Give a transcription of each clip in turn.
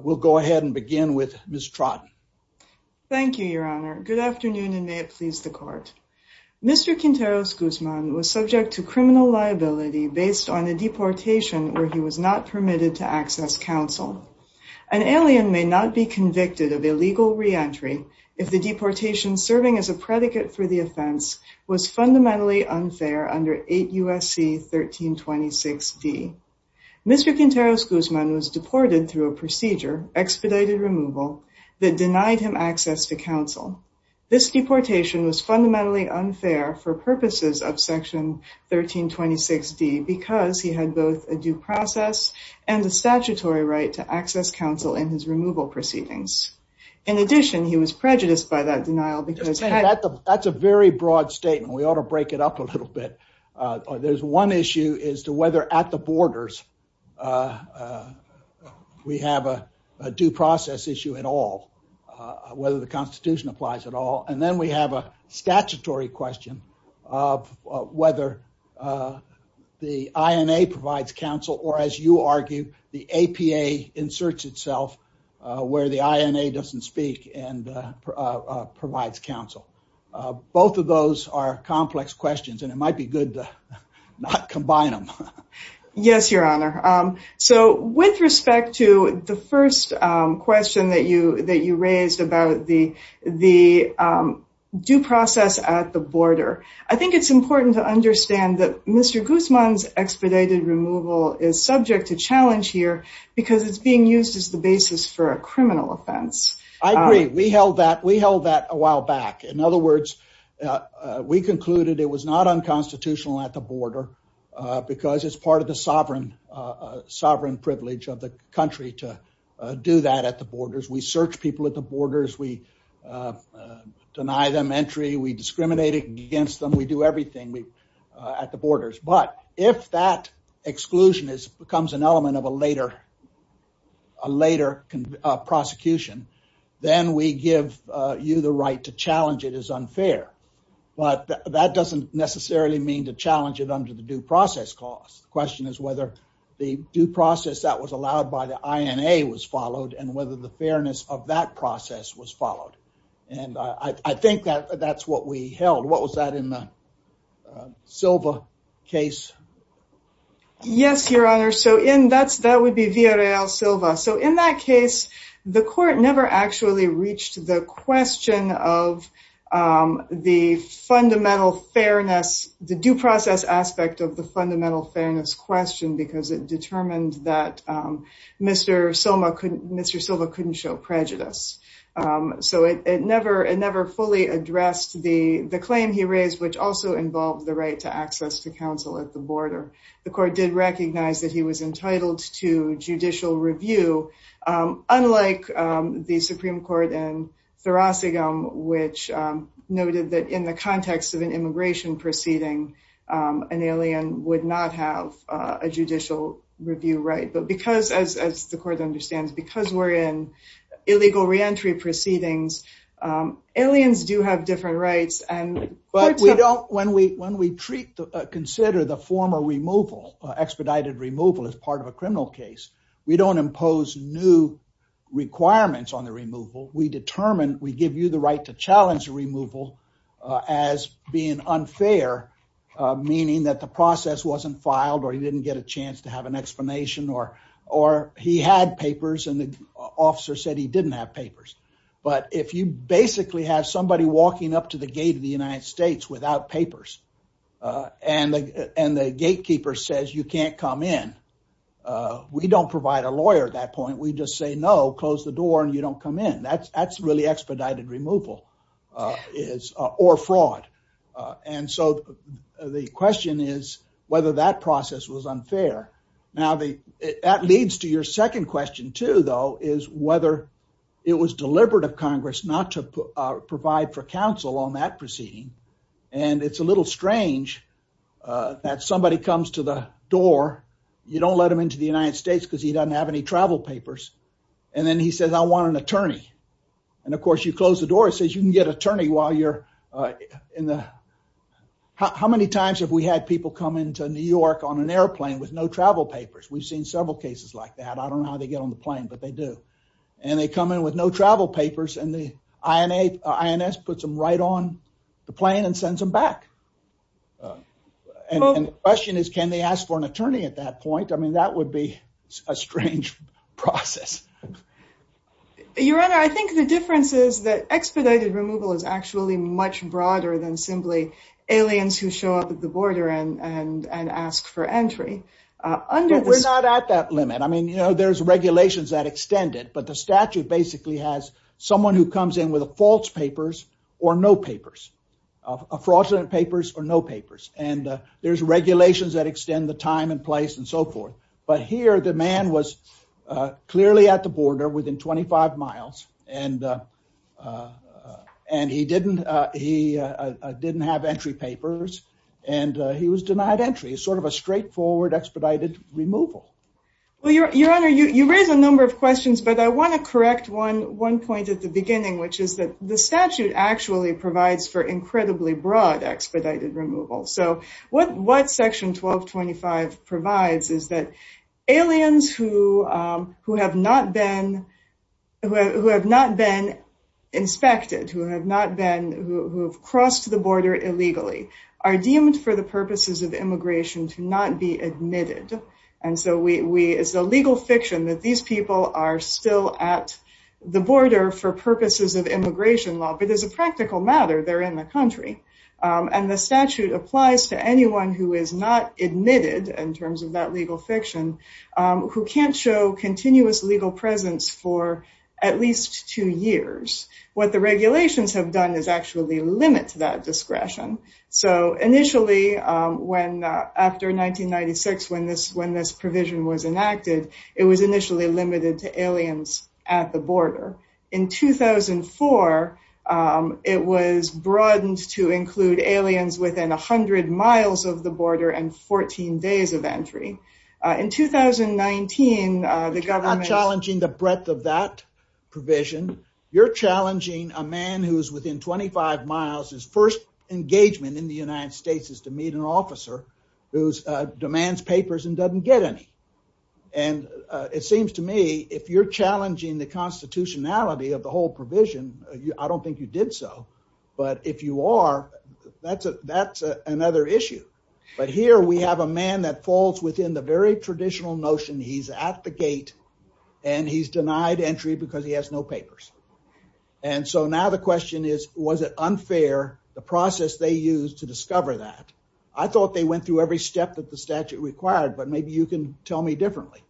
We'll go ahead and begin with Ms. Trotten. Thank you, your honor. Good afternoon and may it please the court. Mr. Quinteros Guzman was subject to criminal liability based on a deportation where he was not permitted to access counsel. An alien may not be convicted of illegal re-entry if the deportation serving as a predicate for the offense was fundamentally unfair under 8 U.S.C. 1326d. Mr. Quinteros Guzman was deported through a procedure, expedited removal, that denied him access to counsel. This deportation was fundamentally unfair for purposes of section 1326d because he had both a due process and a statutory right to access counsel in his removal proceedings. In addition, he was prejudiced by that denial because... That's a very broad statement. We ought to break it up a little bit. There's one issue as to whether at the borders we have a due process issue at all, whether the constitution applies at all. And then we have a statutory question of whether the INA provides counsel or as you argue, the APA inserts itself where the INA doesn't speak and provides counsel. Both of those are complex questions and it might be good to not combine them. Yes, your honor. So with respect to the first question that you raised about the due process at the border, I think it's important to understand that Mr. Guzman's basis for a criminal offense. I agree. We held that a while back. In other words, we concluded it was not unconstitutional at the border because it's part of the sovereign privilege of the country to do that at the borders. We search people at the borders. We deny them entry. We discriminate against them. We do everything at the borders. But if that prosecution, then we give you the right to challenge it as unfair. But that doesn't necessarily mean to challenge it under the due process cost. The question is whether the due process that was allowed by the INA was followed and whether the fairness of that process was followed. And I think that's what we held. What was that in the Silva case? Yes, your honor. That would be Villareal Silva. So in that case, the court never actually reached the question of the fundamental fairness, the due process aspect of the fundamental fairness question because it determined that Mr. Silva couldn't show prejudice. So it never fully addressed the claim he raised, which also involved the right to access to counsel at the border. The court did recognize that he was entitled to judicial review, unlike the Supreme Court in Thoracicum, which noted that in the context of an immigration proceeding, an alien would not have a judicial review right. But because, as the court understands, because we're in illegal reentry proceedings, aliens do have different rights. But we don't, when we consider the former removal, expedited removal as part of a criminal case, we don't impose new requirements on the removal. We determine, we give you the right to challenge the removal as being unfair, meaning that the process wasn't filed or he didn't get a chance to have an explanation or he had papers and the officer said he didn't have papers. But if you basically have somebody walking up to the gate of the United States without papers and the gatekeeper says you can't come in, we don't provide a lawyer at that point. We just say, no, close the door and you don't come in. That's really expedited removal is or fraud. And so the question is whether that process was unfair. Now that leads to your second question too, though, is whether it was deliberate of Congress not to provide for counsel on that proceeding. And it's a little strange that somebody comes to the door, you don't let him into the United States because he doesn't have any travel papers. And then he says, I want an attorney. And of course you close the door, it says you can get attorney while you're in the, how many times have we had people come into New York on an airplane with no travel papers? We've seen several cases like that. I don't know how they get on the plane, but they do. And they come in with no travel papers and the INS puts them right on the plane and sends them back. And the question is, can they ask for an attorney at that point? I mean, that would be a strange process. Your Honor, I think the difference is that expedited removal is actually much broader than simply aliens who show up at the border and ask for entry. We're not at that limit. I mean, there's regulations that extend it, but the statute basically has someone who comes in with a false papers or no papers, a fraudulent papers or no papers. And there's regulations that extend the time and place and so forth. But here the man was clearly at the border within 25 miles and he didn't have entry and he was denied entry. It's sort of a straightforward expedited removal. Well, Your Honor, you raise a number of questions, but I want to correct one point at the beginning, which is that the statute actually provides for incredibly broad expedited removal. So what section 1225 provides is that aliens who have not been inspected, who have not been, who have crossed the border illegally, are deemed for the purposes of immigration to not be admitted. And so it's a legal fiction that these people are still at the border for purposes of immigration law, but as a practical matter, they're in the country. And the statute applies to anyone who is not admitted in terms of that legal fiction, who can't show continuous legal presence for at least two years. What the regulations have done is actually limit that discretion. So initially, after 1996, when this provision was enacted, it was initially limited to aliens at the border. In 2004, it was broadened to include aliens within 100 miles of the border and 14 days of entry. In 2019, the government... You're not challenging the breadth of that provision. You're challenging a man who's within 25 miles, his first engagement in the United States is to meet an officer who demands papers and doesn't get any. And it seems to me, if you're challenging the constitutionality of the whole provision, I don't think you did so. But if you are, that's another issue. But here we have a man that falls within the very traditional notion, he's at the gate and he's denied entry because he has no papers. And so now the question is, was it unfair, the process they used to discover that? I thought they went through every step that the statute required, but maybe you can tell me differently.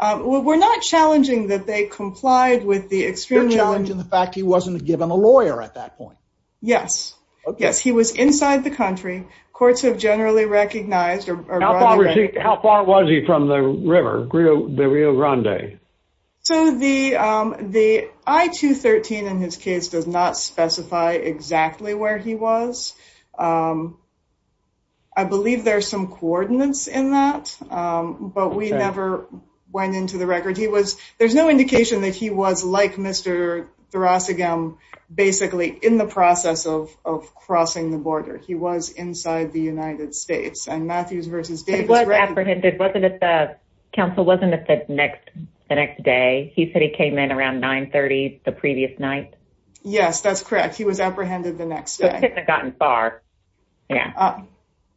We're not challenging that they complied with the extreme... You're challenging the fact he wasn't given a lawyer at that point. Yes. Yes. He was inside the country. Courts have generally recognized... How far was he from the river, the Rio Grande? So the I-213 in his case does not specify exactly where he was. I believe there's some coordinates in that, but we never went into the record. There's no indication that he was like Mr. Ossigam basically in the process of crossing the border. He was inside the United States. Counsel, wasn't it the next day? He said he came in around 9.30 the previous night. Yes, that's correct. He was apprehended the next day. So it couldn't have gotten far.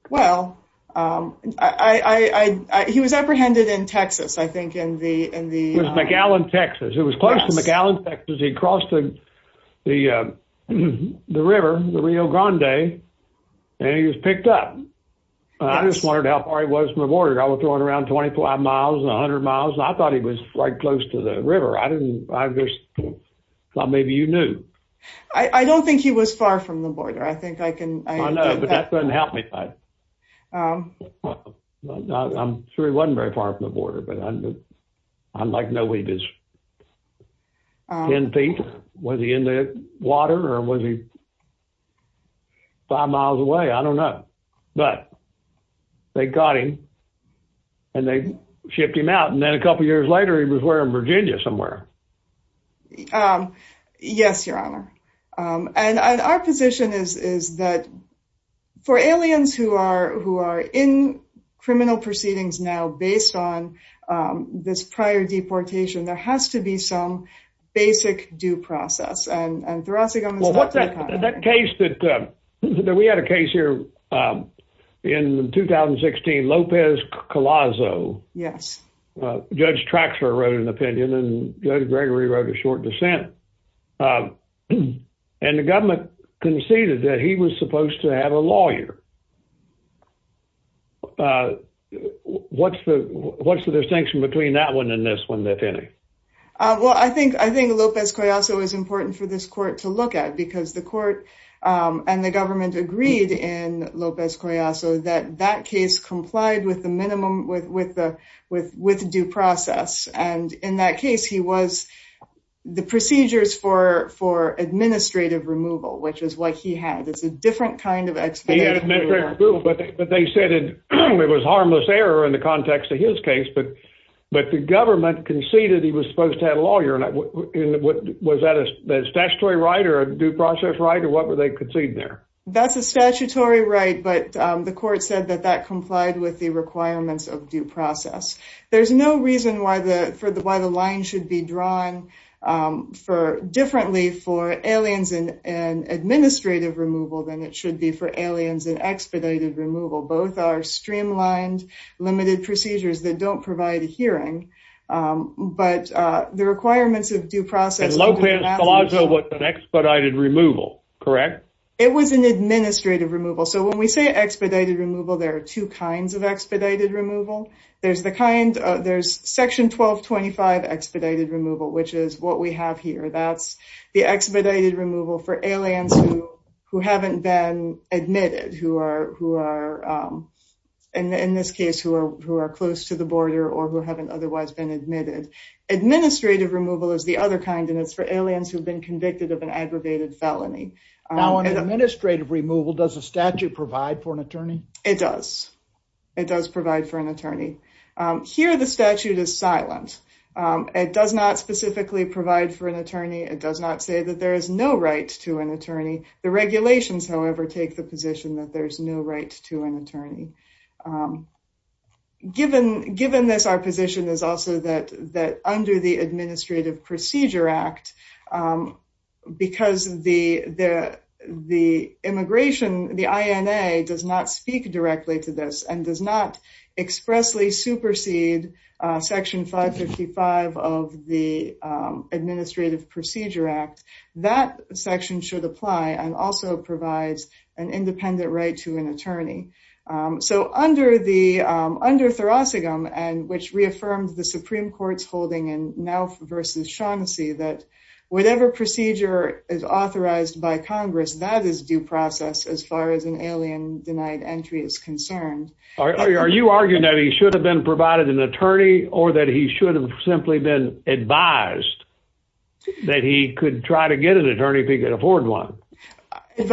Well, he was apprehended in Texas, I think in the... The river, the Rio Grande, and he was picked up. I just wondered how far he was from the border. I was going around 25 miles, 100 miles. I thought he was right close to the river. I didn't... Maybe you knew. I don't think he was far from the border. I think I can... I know, but that doesn't help me. I'm sure he wasn't very far from the border, but I'm like he was 10 feet. Was he in the water or was he five miles away? I don't know. But they got him and they shipped him out. And then a couple of years later, he was where? In Virginia somewhere. Yes, Your Honor. And our position is that for aliens who are in criminal proceedings now, based on this prior deportation, there has to be some basic due process. And Thurasigam has... Well, what's that case that... We had a case here in 2016, Lopez-Colazo. Yes. Judge Traxler wrote an opinion and Judge Gregory wrote a short dissent. And the government conceded that he was supposed to have a lawyer. What's the distinction between that one and this one, if any? Well, I think Lopez-Colazo is important for this court to look at because the court and the government agreed in Lopez-Colazo that that case complied with the minimum, with due process. And in that case, he was... The procedures for administrative removal, which is what he had. It's a different kind of explanation. But they said it was harmless error in the context of his case. But the government conceded he was supposed to have a lawyer. Was that a statutory right or a due process right? Or what were they conceding there? That's a statutory right. But the court said that that complied with the requirements of due process. There's no reason why the line should be drawn differently for aliens and administrative removal than it should be for aliens and expedited removal. Both are streamlined, limited procedures that don't provide a hearing. But the requirements of due process... And Lopez-Colazo was an expedited removal, correct? It was an administrative removal. So when we say expedited removal, there are two kinds of expedited removal. There's the kind, there's section 1225 expedited removal, which is what we have here. That's the expedited removal for aliens who haven't been admitted, who are, in this case, who are close to the border or who haven't otherwise been admitted. Administrative removal is the other kind, and it's for aliens who've been convicted of an aggravated felony. Now, an administrative removal, does a statute provide for an attorney? It does. It does provide for an attorney. Here, the statute is silent. It does not specifically provide for an attorney. It does not say that there is no right to an attorney. The regulations, however, take the position that there's no right to an attorney. Given this, our position is also that under the Administrative Procedure Act, because the immigration, the INA, does not speak directly to this and does not expressly supersede section 555 of the Administrative Procedure Act, that section should apply and also provides an independent right to an attorney. So under the, under Thoracicum, which reaffirmed the Supreme Court's holding in whatever procedure is authorized by Congress, that is due process as far as an alien denied entry is concerned. Are you arguing that he should have been provided an attorney or that he should have simply been advised that he could try to get an attorney if he could afford one? It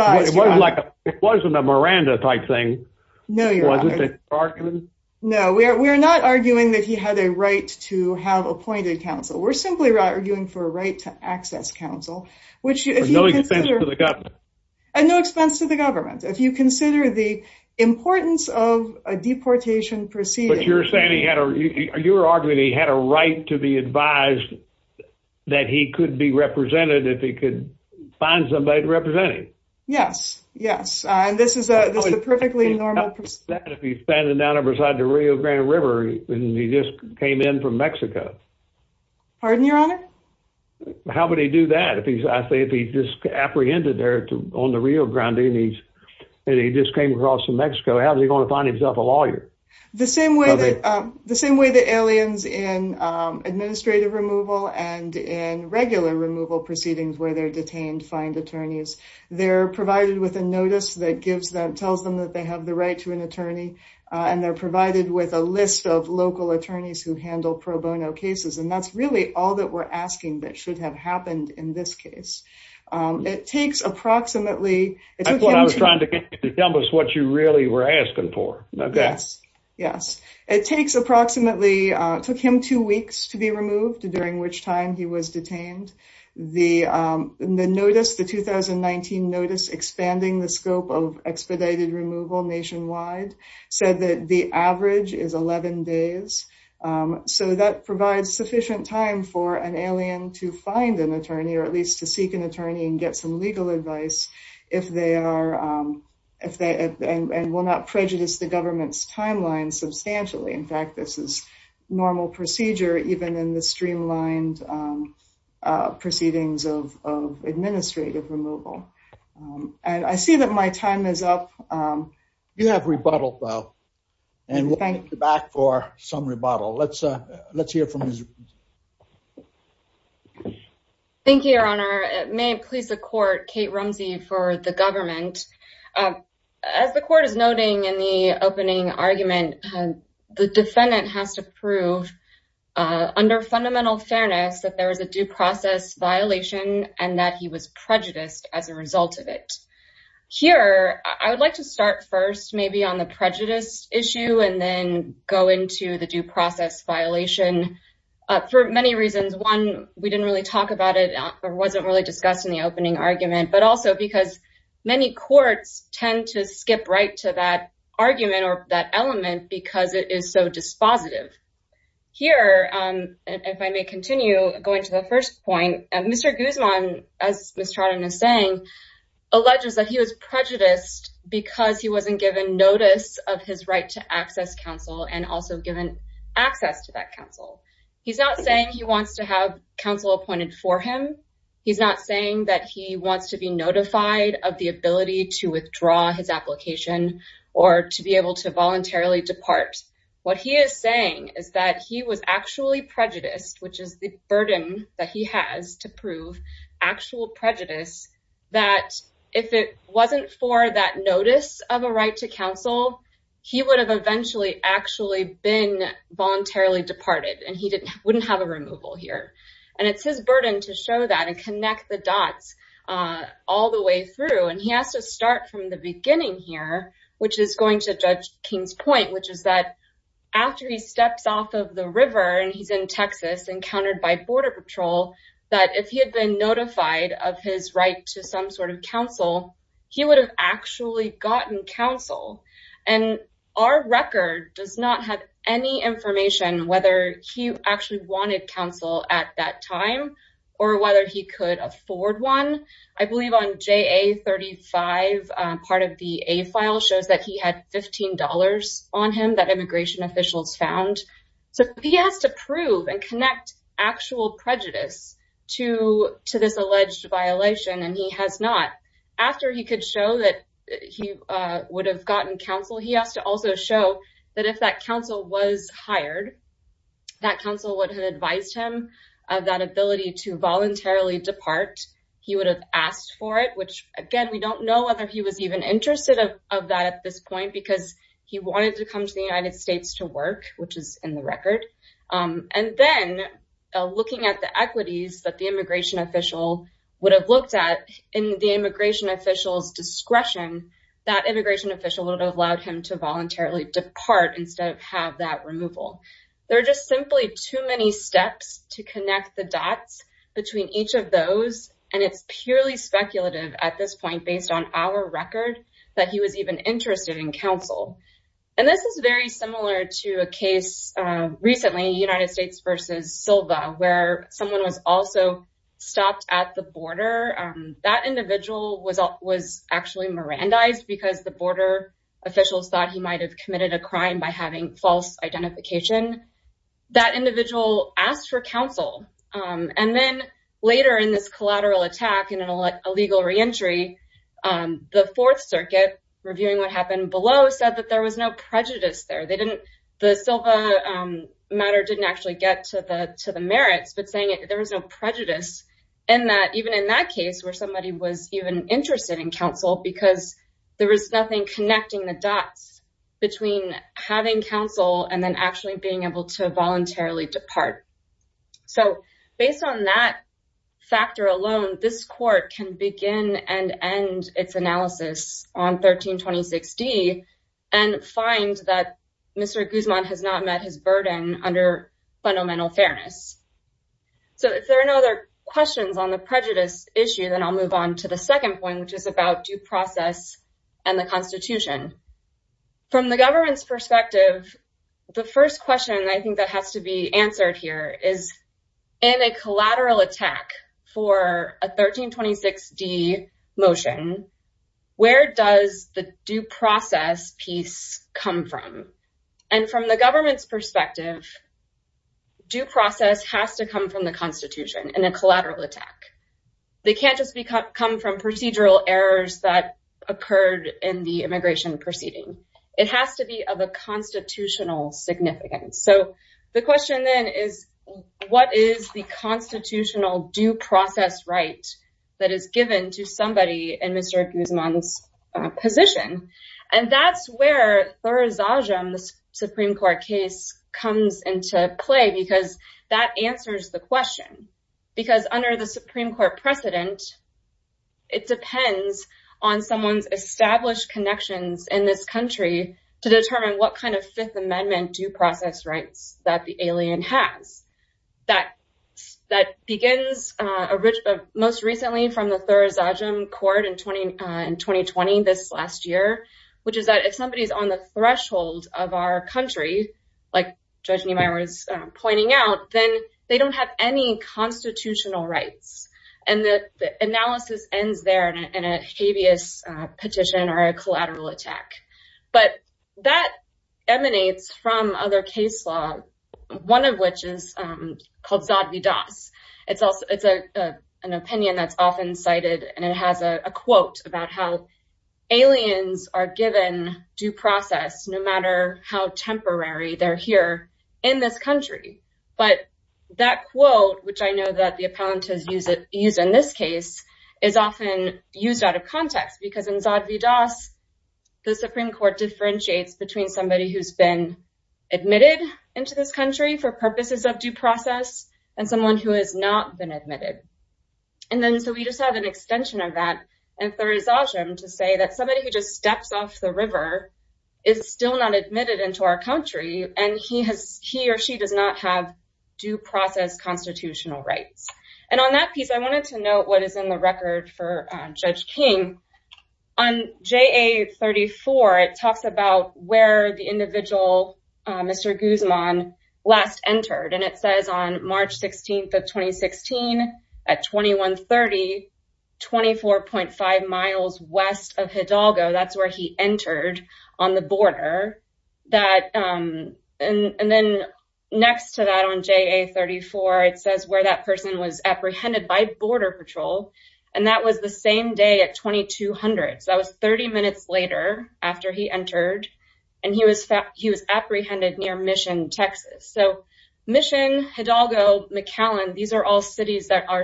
wasn't a Miranda-type thing, was it? No, we're not arguing that he had a right to have appointed counsel. We're simply arguing for a right to access counsel, which if you consider... For no expense to the government. And no expense to the government. If you consider the importance of a deportation proceeding... But you're saying he had a, you're arguing he had a right to be advised that he could be represented if he could find somebody to represent him. Yes, yes. And this is a perfectly normal... If he's standing down beside the Rio Grande River and he just came in from Mexico. Pardon, Your Honor? How would he do that if he's apprehended there on the Rio Grande and he just came across from Mexico, how's he going to find himself a lawyer? The same way that aliens in administrative removal and in regular removal proceedings where they're detained find attorneys. They're provided with a notice that tells them that they have the right to an attorney, and they're provided with a list of local attorneys who handle pro bono cases. And that's really all that we're asking that should have happened in this case. It takes approximately... That's what I was trying to get you to tell us what you really were asking for. Yes. It takes approximately, took him two weeks to be removed during which time he was detained. The notice, the 2019 notice expanding the scope of expedited removal nationwide said that the average is 11 days. So that provides sufficient time for an alien to find an attorney or at least to seek an attorney and get some legal advice if they are... And will not prejudice the government's timeline substantially. In fact, this is normal procedure even in the streamlined proceedings of administrative removal. And I see that my time is up. You have rebuttal though, and we'll get you back for some rebuttal. Let's hear from... Thank you, Your Honor. May it please the court, Kate Rumsey for the government. As the court is noting in the opening argument, the defendant has to prove under fundamental fairness that there was a due process violation and that he was prejudiced as a result of it. Here, I would like to start first maybe on the prejudice issue and then go into the due process violation for many reasons. One, we didn't really talk about it or wasn't really discussed in the opening argument, but also because many courts tend to skip right to that argument or that element because it is so dispositive. Here, if I may continue going to the first point, Mr. Guzman, as Miss Trotten is saying, alleges that he was prejudiced because he wasn't given notice of his right to access counsel and also given access to that counsel. He's not saying he wants to have counsel appointed for him, he's not saying that he wants to be notified of the ability to withdraw his application or to be able to voluntarily depart. What he is saying is that he was actually prejudiced, which is the burden that he has to prove actual prejudice, that if it wasn't for that notice of a right to counsel, he would have eventually actually been voluntarily departed and he has to show that and connect the dots all the way through. He has to start from the beginning here, which is going to judge King's point, which is that after he steps off of the river and he's in Texas, encountered by border patrol, that if he had been notified of his right to some sort of counsel, he would have actually gotten counsel. Our record does not have any information whether he actually wanted counsel at that time or whether he could afford one. I believe on JA35, part of the A file shows that he had $15 on him that immigration officials found. So he has to prove and connect actual prejudice to this alleged violation and he has not. After he could show that he would have gotten counsel, he has to also show that if that counsel was hired, that counsel would have advised him of that ability to voluntarily depart. He would have asked for it, which again, we don't know whether he was even interested of that at this point because he wanted to come to the United States to work, which is in the record. And then looking at the equities that the immigration official would have looked at in the immigration official's discretion, that immigration official would have allowed him to have that removal. There are just simply too many steps to connect the dots between each of those. And it's purely speculative at this point, based on our record, that he was even interested in counsel. And this is very similar to a case recently, United States versus Silva, where someone was also stopped at the border. That individual was actually Mirandized because the identification, that individual asked for counsel. And then later in this collateral attack, in an illegal reentry, the Fourth Circuit, reviewing what happened below, said that there was no prejudice there. They didn't, the Silva matter didn't actually get to the merits, but saying there was no prejudice. And that even in that case where somebody was even interested in counsel, because there was nothing connecting the dots between having counsel and then actually being able to voluntarily depart. So based on that factor alone, this court can begin and end its analysis on 1326d and find that Mr. Guzman has not met his burden under fundamental fairness. So if there are no other questions on the prejudice issue, then I'll move on to the second process and the Constitution. From the government's perspective, the first question I think that has to be answered here is, in a collateral attack for a 1326d motion, where does the due process piece come from? And from the government's perspective, due process has to come from the occurred in the immigration proceeding. It has to be of a constitutional significance. So the question then is, what is the constitutional due process right that is given to somebody in Mr. Guzman's position? And that's where Thurzajam's Supreme Court case comes into play, because that answers the question. Because under the Supreme Court precedent, it depends on someone's established connections in this country to determine what kind of Fifth Amendment due process rights that the alien has. That begins most recently from the Thurzajam court in 2020, this last year, which is that if somebody's on the threshold of our country, like Judge Niemeyer was pointing out, then they don't have any constitutional rights. And the analysis ends there in a habeas petition or a collateral attack. But that emanates from other case law, one of which is called Zad Vidas. It's an opinion that's often cited, and it has a quote about how aliens are given due process, no matter how temporary they're here in this country. But that quote, which I know that the appellant has used in this case, is often used out of context, because in Zad Vidas, the Supreme Court differentiates between somebody who's been admitted into this country for purposes of due process and someone who has not been admitted. And then so we just have an extension of that in Thurzajam to say that somebody who just steps off the river is still not admitted into our country, and he or she does not have due process constitutional rights. And on that piece, I wanted to note what is in the record for Judge King. On JA 34, it talks about where the individual, Mr. Guzman, last at 2130, 24.5 miles west of Hidalgo. That's where he entered on the border. And then next to that on JA 34, it says where that person was apprehended by border patrol. And that was the same day at 2200. So that was 30 minutes later after he entered, and he was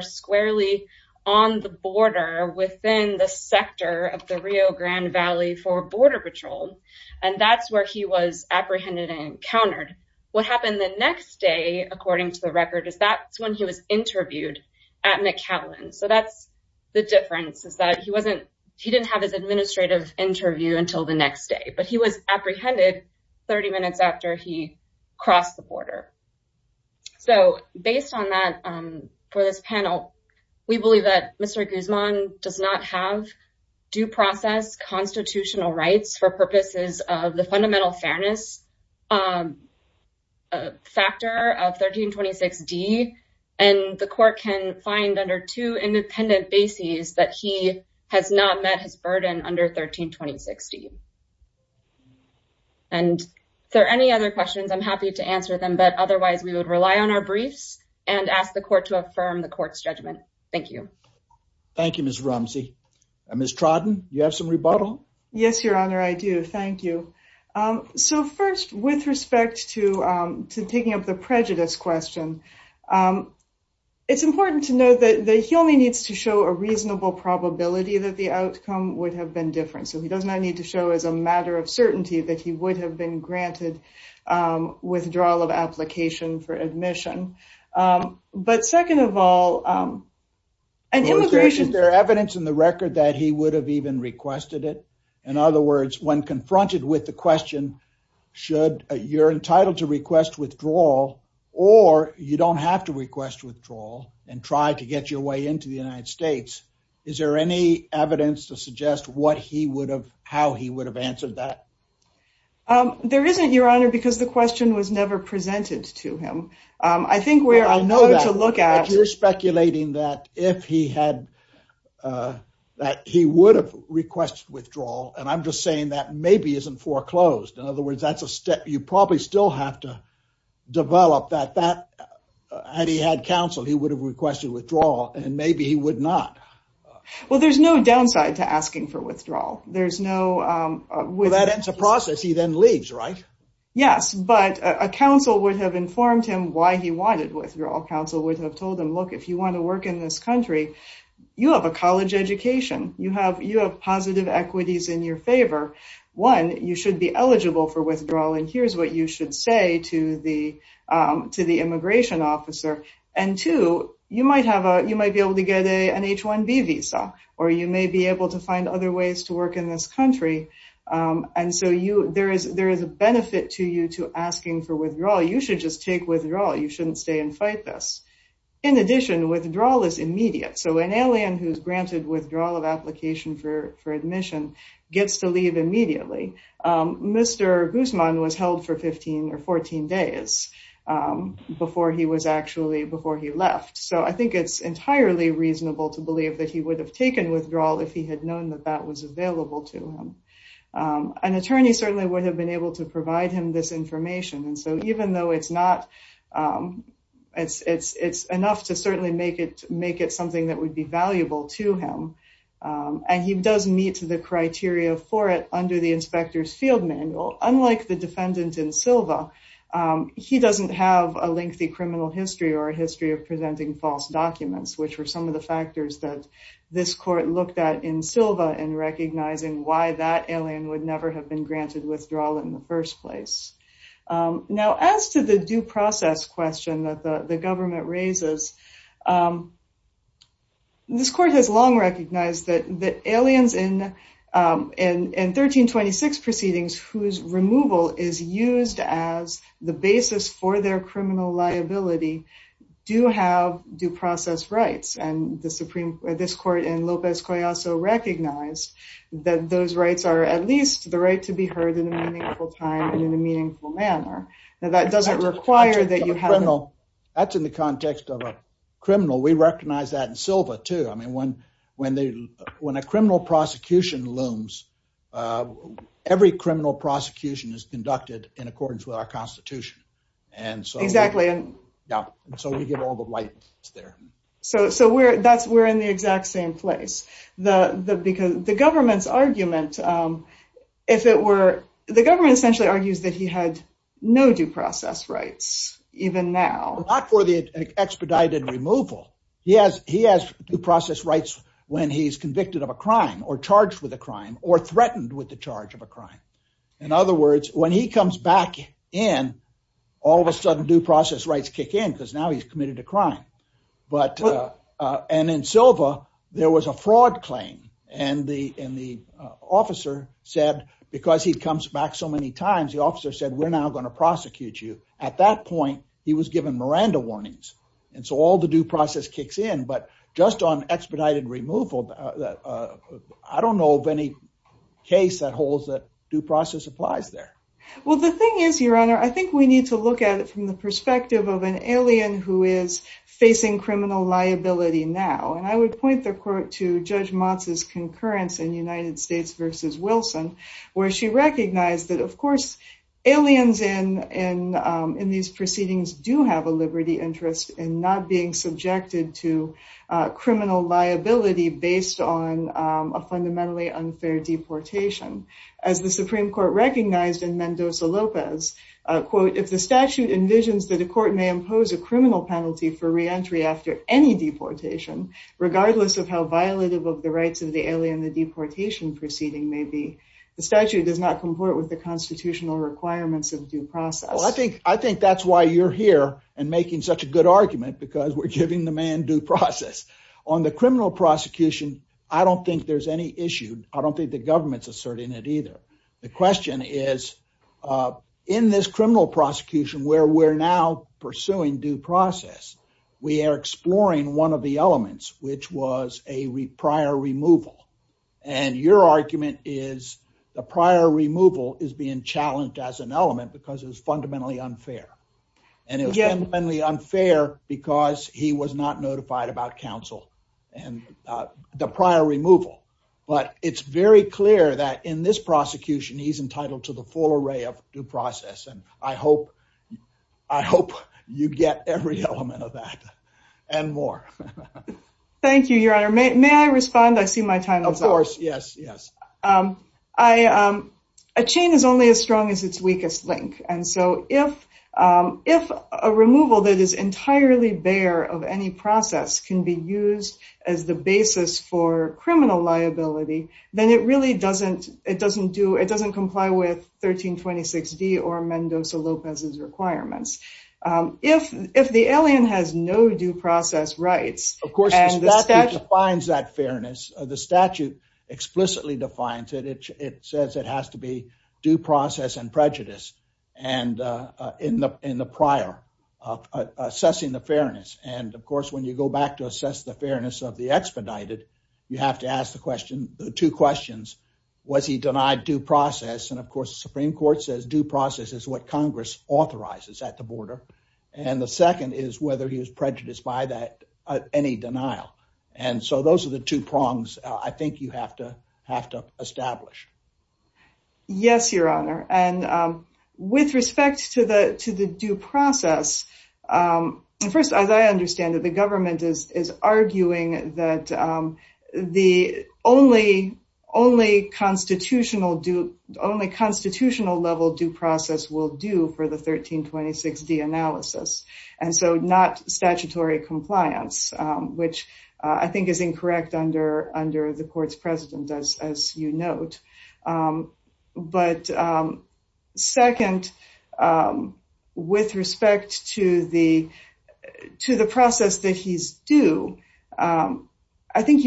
squarely on the border within the sector of the Rio Grande Valley for border patrol. And that's where he was apprehended and countered. What happened the next day, according to the record, is that's when he was interviewed at McAllen. So that's the difference is that he didn't have his administrative interview until the next day, he was apprehended 30 minutes after he crossed the border. So based on that, for this panel, we believe that Mr. Guzman does not have due process constitutional rights for purposes of the fundamental fairness factor of 1326 D. And the court can find under two independent bases that he has not met his burden under 1326 D. And if there are any other questions, I'm happy to answer them. But otherwise, we would rely on our briefs and ask the court to affirm the court's judgment. Thank you. Thank you, Ms. Rumsey. Ms. Trodden, you have some rebuttal? Yes, Your Honor, I do. Thank you. So first, with respect to picking up the prejudice question, it's important to note that he only needs to show a reasonable probability that the outcome would have been different. So he does not need to show as a matter of certainty that he would have been granted withdrawal of application for admission. But second of all, and immigration- So is there evidence in the record that he would have even requested it? In other words, when confronted with the question, should you're entitled to request withdrawal, or you don't have to request withdrawal and try to get your way into the United States? Is there any evidence to suggest what he would have, how he would have answered that? There isn't, Your Honor, because the question was never presented to him. I think where I'll know to look at- But you're speculating that if he had, that he would have requested withdrawal, and I'm just saying that maybe isn't foreclosed. In other words, that's a step you probably still have to develop that. Had he had counsel, he would have requested withdrawal, and maybe he would not. Well, there's no downside to asking for withdrawal. There's no- Well, that ends the process. He then leaves, right? Yes, but a counsel would have informed him why he wanted withdrawal. Counsel would have told him, look, if you want to work in this country, you have a college education. You have positive equities in your favor. One, you should be eligible for withdrawal, and here's what you should say to the immigration officer. Two, you might be able to get an H-1B visa, or you may be able to find other ways to work in this country. There is a benefit to you to asking for withdrawal. You should just take withdrawal. You shouldn't stay and fight this. In addition, withdrawal is immediate, so an alien who's granted withdrawal of application for admission gets to leave immediately. Mr. Guzman was held for 15 or 14 days before he was actually- before he left, so I think it's entirely reasonable to believe that he would have taken withdrawal if he had known that that was available to him. An attorney certainly would have been able to provide him this information, and so even though it's not- it's enough to certainly make it something that would be valuable to him, and he does meet the criteria for it under the inspector's field manual. Unlike the defendant in Silva, he doesn't have a lengthy criminal history or a history of presenting false documents, which were some of the factors that this court looked at in Silva in recognizing why that alien would never have been granted withdrawal in the first place. Now, as to the due process question that the government raises, this court has long recognized that aliens in 1326 proceedings whose removal is used as the basis for their criminal liability do have due process rights, and the Supreme- this court in Lopez Collazo recognized that those rights are at least the right to be heard in a meaningful time and in a meaningful manner. Now, that doesn't require that you have- That's in the context of a criminal. We recognize that in Silva too. I mean, when a criminal prosecution looms, every criminal prosecution is conducted in accordance with our constitution, and so- Exactly. Yeah, and so we give all the rights there. So we're in the exact same place. The government's argument, if it were- the government essentially argues that he had no due process rights even now. Not for the expedited removal. He has due process rights when he's convicted of a crime, or charged with a crime, or threatened with the charge of a crime. In other words, when he comes back in, all of a sudden due process rights kick in because now he's committed a crime. And in Silva, there was a fraud claim, and the officer said, because he comes back so many times, the officer said, we're now going to prosecute you. At that point, he was given Miranda warnings, and so all the due process kicks in. But just on expedited removal, that I don't know of any case that holds that due process applies there. Well, the thing is, your honor, I think we need to look at it from the perspective of an alien who is facing criminal liability now. And I would point the court to Judge Motz's concurrence in United States versus Wilson, where she recognized that of course, aliens in these proceedings do have a liberty interest in not being subjected to criminal liability based on a fundamentally unfair deportation. As the Supreme Court recognized in Mendoza-Lopez, quote, if the statute envisions that the court may impose a criminal penalty for reentry after any deportation, regardless of how violative of the rights of the alien the deportation proceeding may be, the statute does not comport with the constitutional requirements of due process. Well, I think that's why you're here and making such a good argument, because we're giving the man due process. On the criminal prosecution, I don't think there's any issue. I don't think the government's asserting that either. The question is, in this criminal prosecution where we're now pursuing due process, we are exploring one of the elements, which was a prior removal. And your argument is the prior removal is being challenged as an element because it's fundamentally unfair. And it was fundamentally unfair because he was not notified about counsel and the prior removal. But it's very clear that in this prosecution, he's entitled to the full array of due process. And I hope you get every element of that and more. Thank you, Your Honor. May I respond? I see my time is up. Of course. Yes, yes. A chain is only as strong as its weakest link. And so if a removal that is entirely bare of any process can be used as the basis for criminal liability, then it really doesn't comply with 1326D or Mendoza-Lopez's requirements. If the alien has no due process rights... It says it has to be due process and prejudice in the prior, assessing the fairness. And of course, when you go back to assess the fairness of the expedited, you have to ask the two questions. Was he denied due process? And of course, the Supreme Court says due process is what Congress authorizes at the border. And the second is whether he was prejudiced by that, any denial. And so those are the two prongs I think you have to establish. Yes, Your Honor. And with respect to the due process, first, as I understand it, the government is arguing that the only constitutional level due process will do for the 1326D analysis. And so not statutory compliance, which I think is incorrect under the court's precedent, as you note. But second, with respect to the process that he's due, I think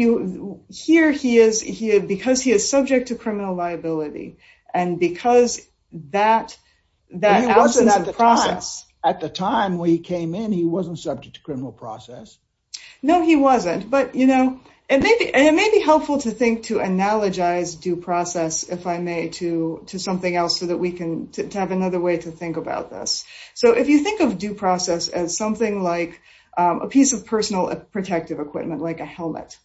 here he is because he is subject to criminal liability. And because that... At the time we came in, he wasn't subject to criminal process. No, he wasn't. And it may be helpful to think to analogize due process, if I may, to something else so that we can have another way to think about this. So if you think of due process as something like a piece of personal protective equipment, like a helmet,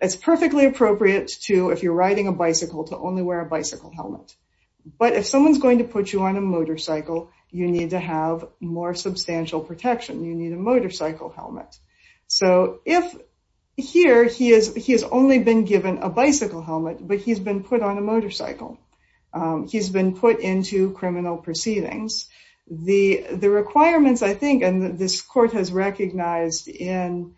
it's perfectly appropriate to, if you're riding a bicycle, to only wear a bicycle helmet. But if someone's going to put you on a motorcycle, you need to have more substantial protection. You need a motorcycle helmet. So if here he has only been given a bicycle helmet, but he's been put on a motorcycle, he's been put into criminal proceedings, the requirements, I think, and this court has recognized, certainly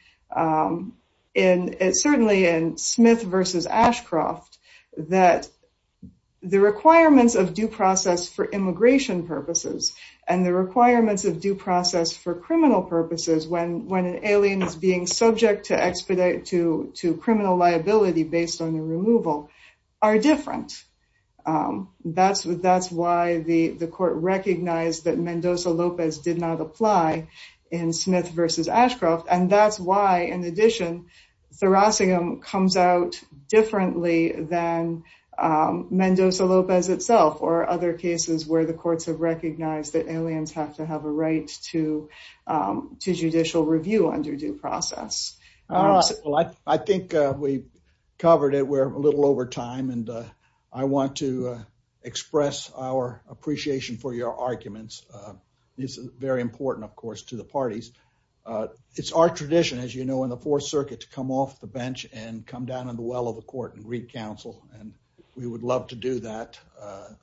in Smith v. Ashcroft, that the requirements of due process for immigration purposes and the requirements of due process for criminal purposes, when an alien is being subject to criminal liability based on their removal, are different. That's why the court recognized that Mendoza-Lopez did not apply in Smith v. Ashcroft. And that's why, in addition, Thurassigam comes out differently than Mendoza-Lopez itself or other cases where the courts have recognized that aliens have to have a right to judicial review under due process. I think we've covered it. We're a little over time. And I want to express our appreciation for your arguments. This is very important, of course, to the parties. It's our tradition, as you know, in the Fourth Circuit to come off the bench and come down in the well of court and greet counsel. And we would love to do that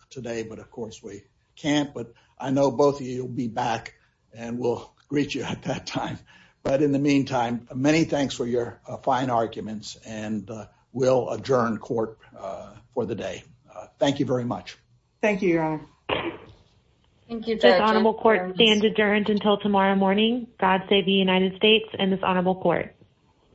today. But, of course, we can't. But I know both of you will be back. And we'll greet you at that time. But in the meantime, many thanks for your fine arguments. And we'll adjourn court for the day. Thank you very much. Thank you, Your Honor. Thank you, Judge. This honorable court stands adjourned until tomorrow morning. God save the United States and this honorable court.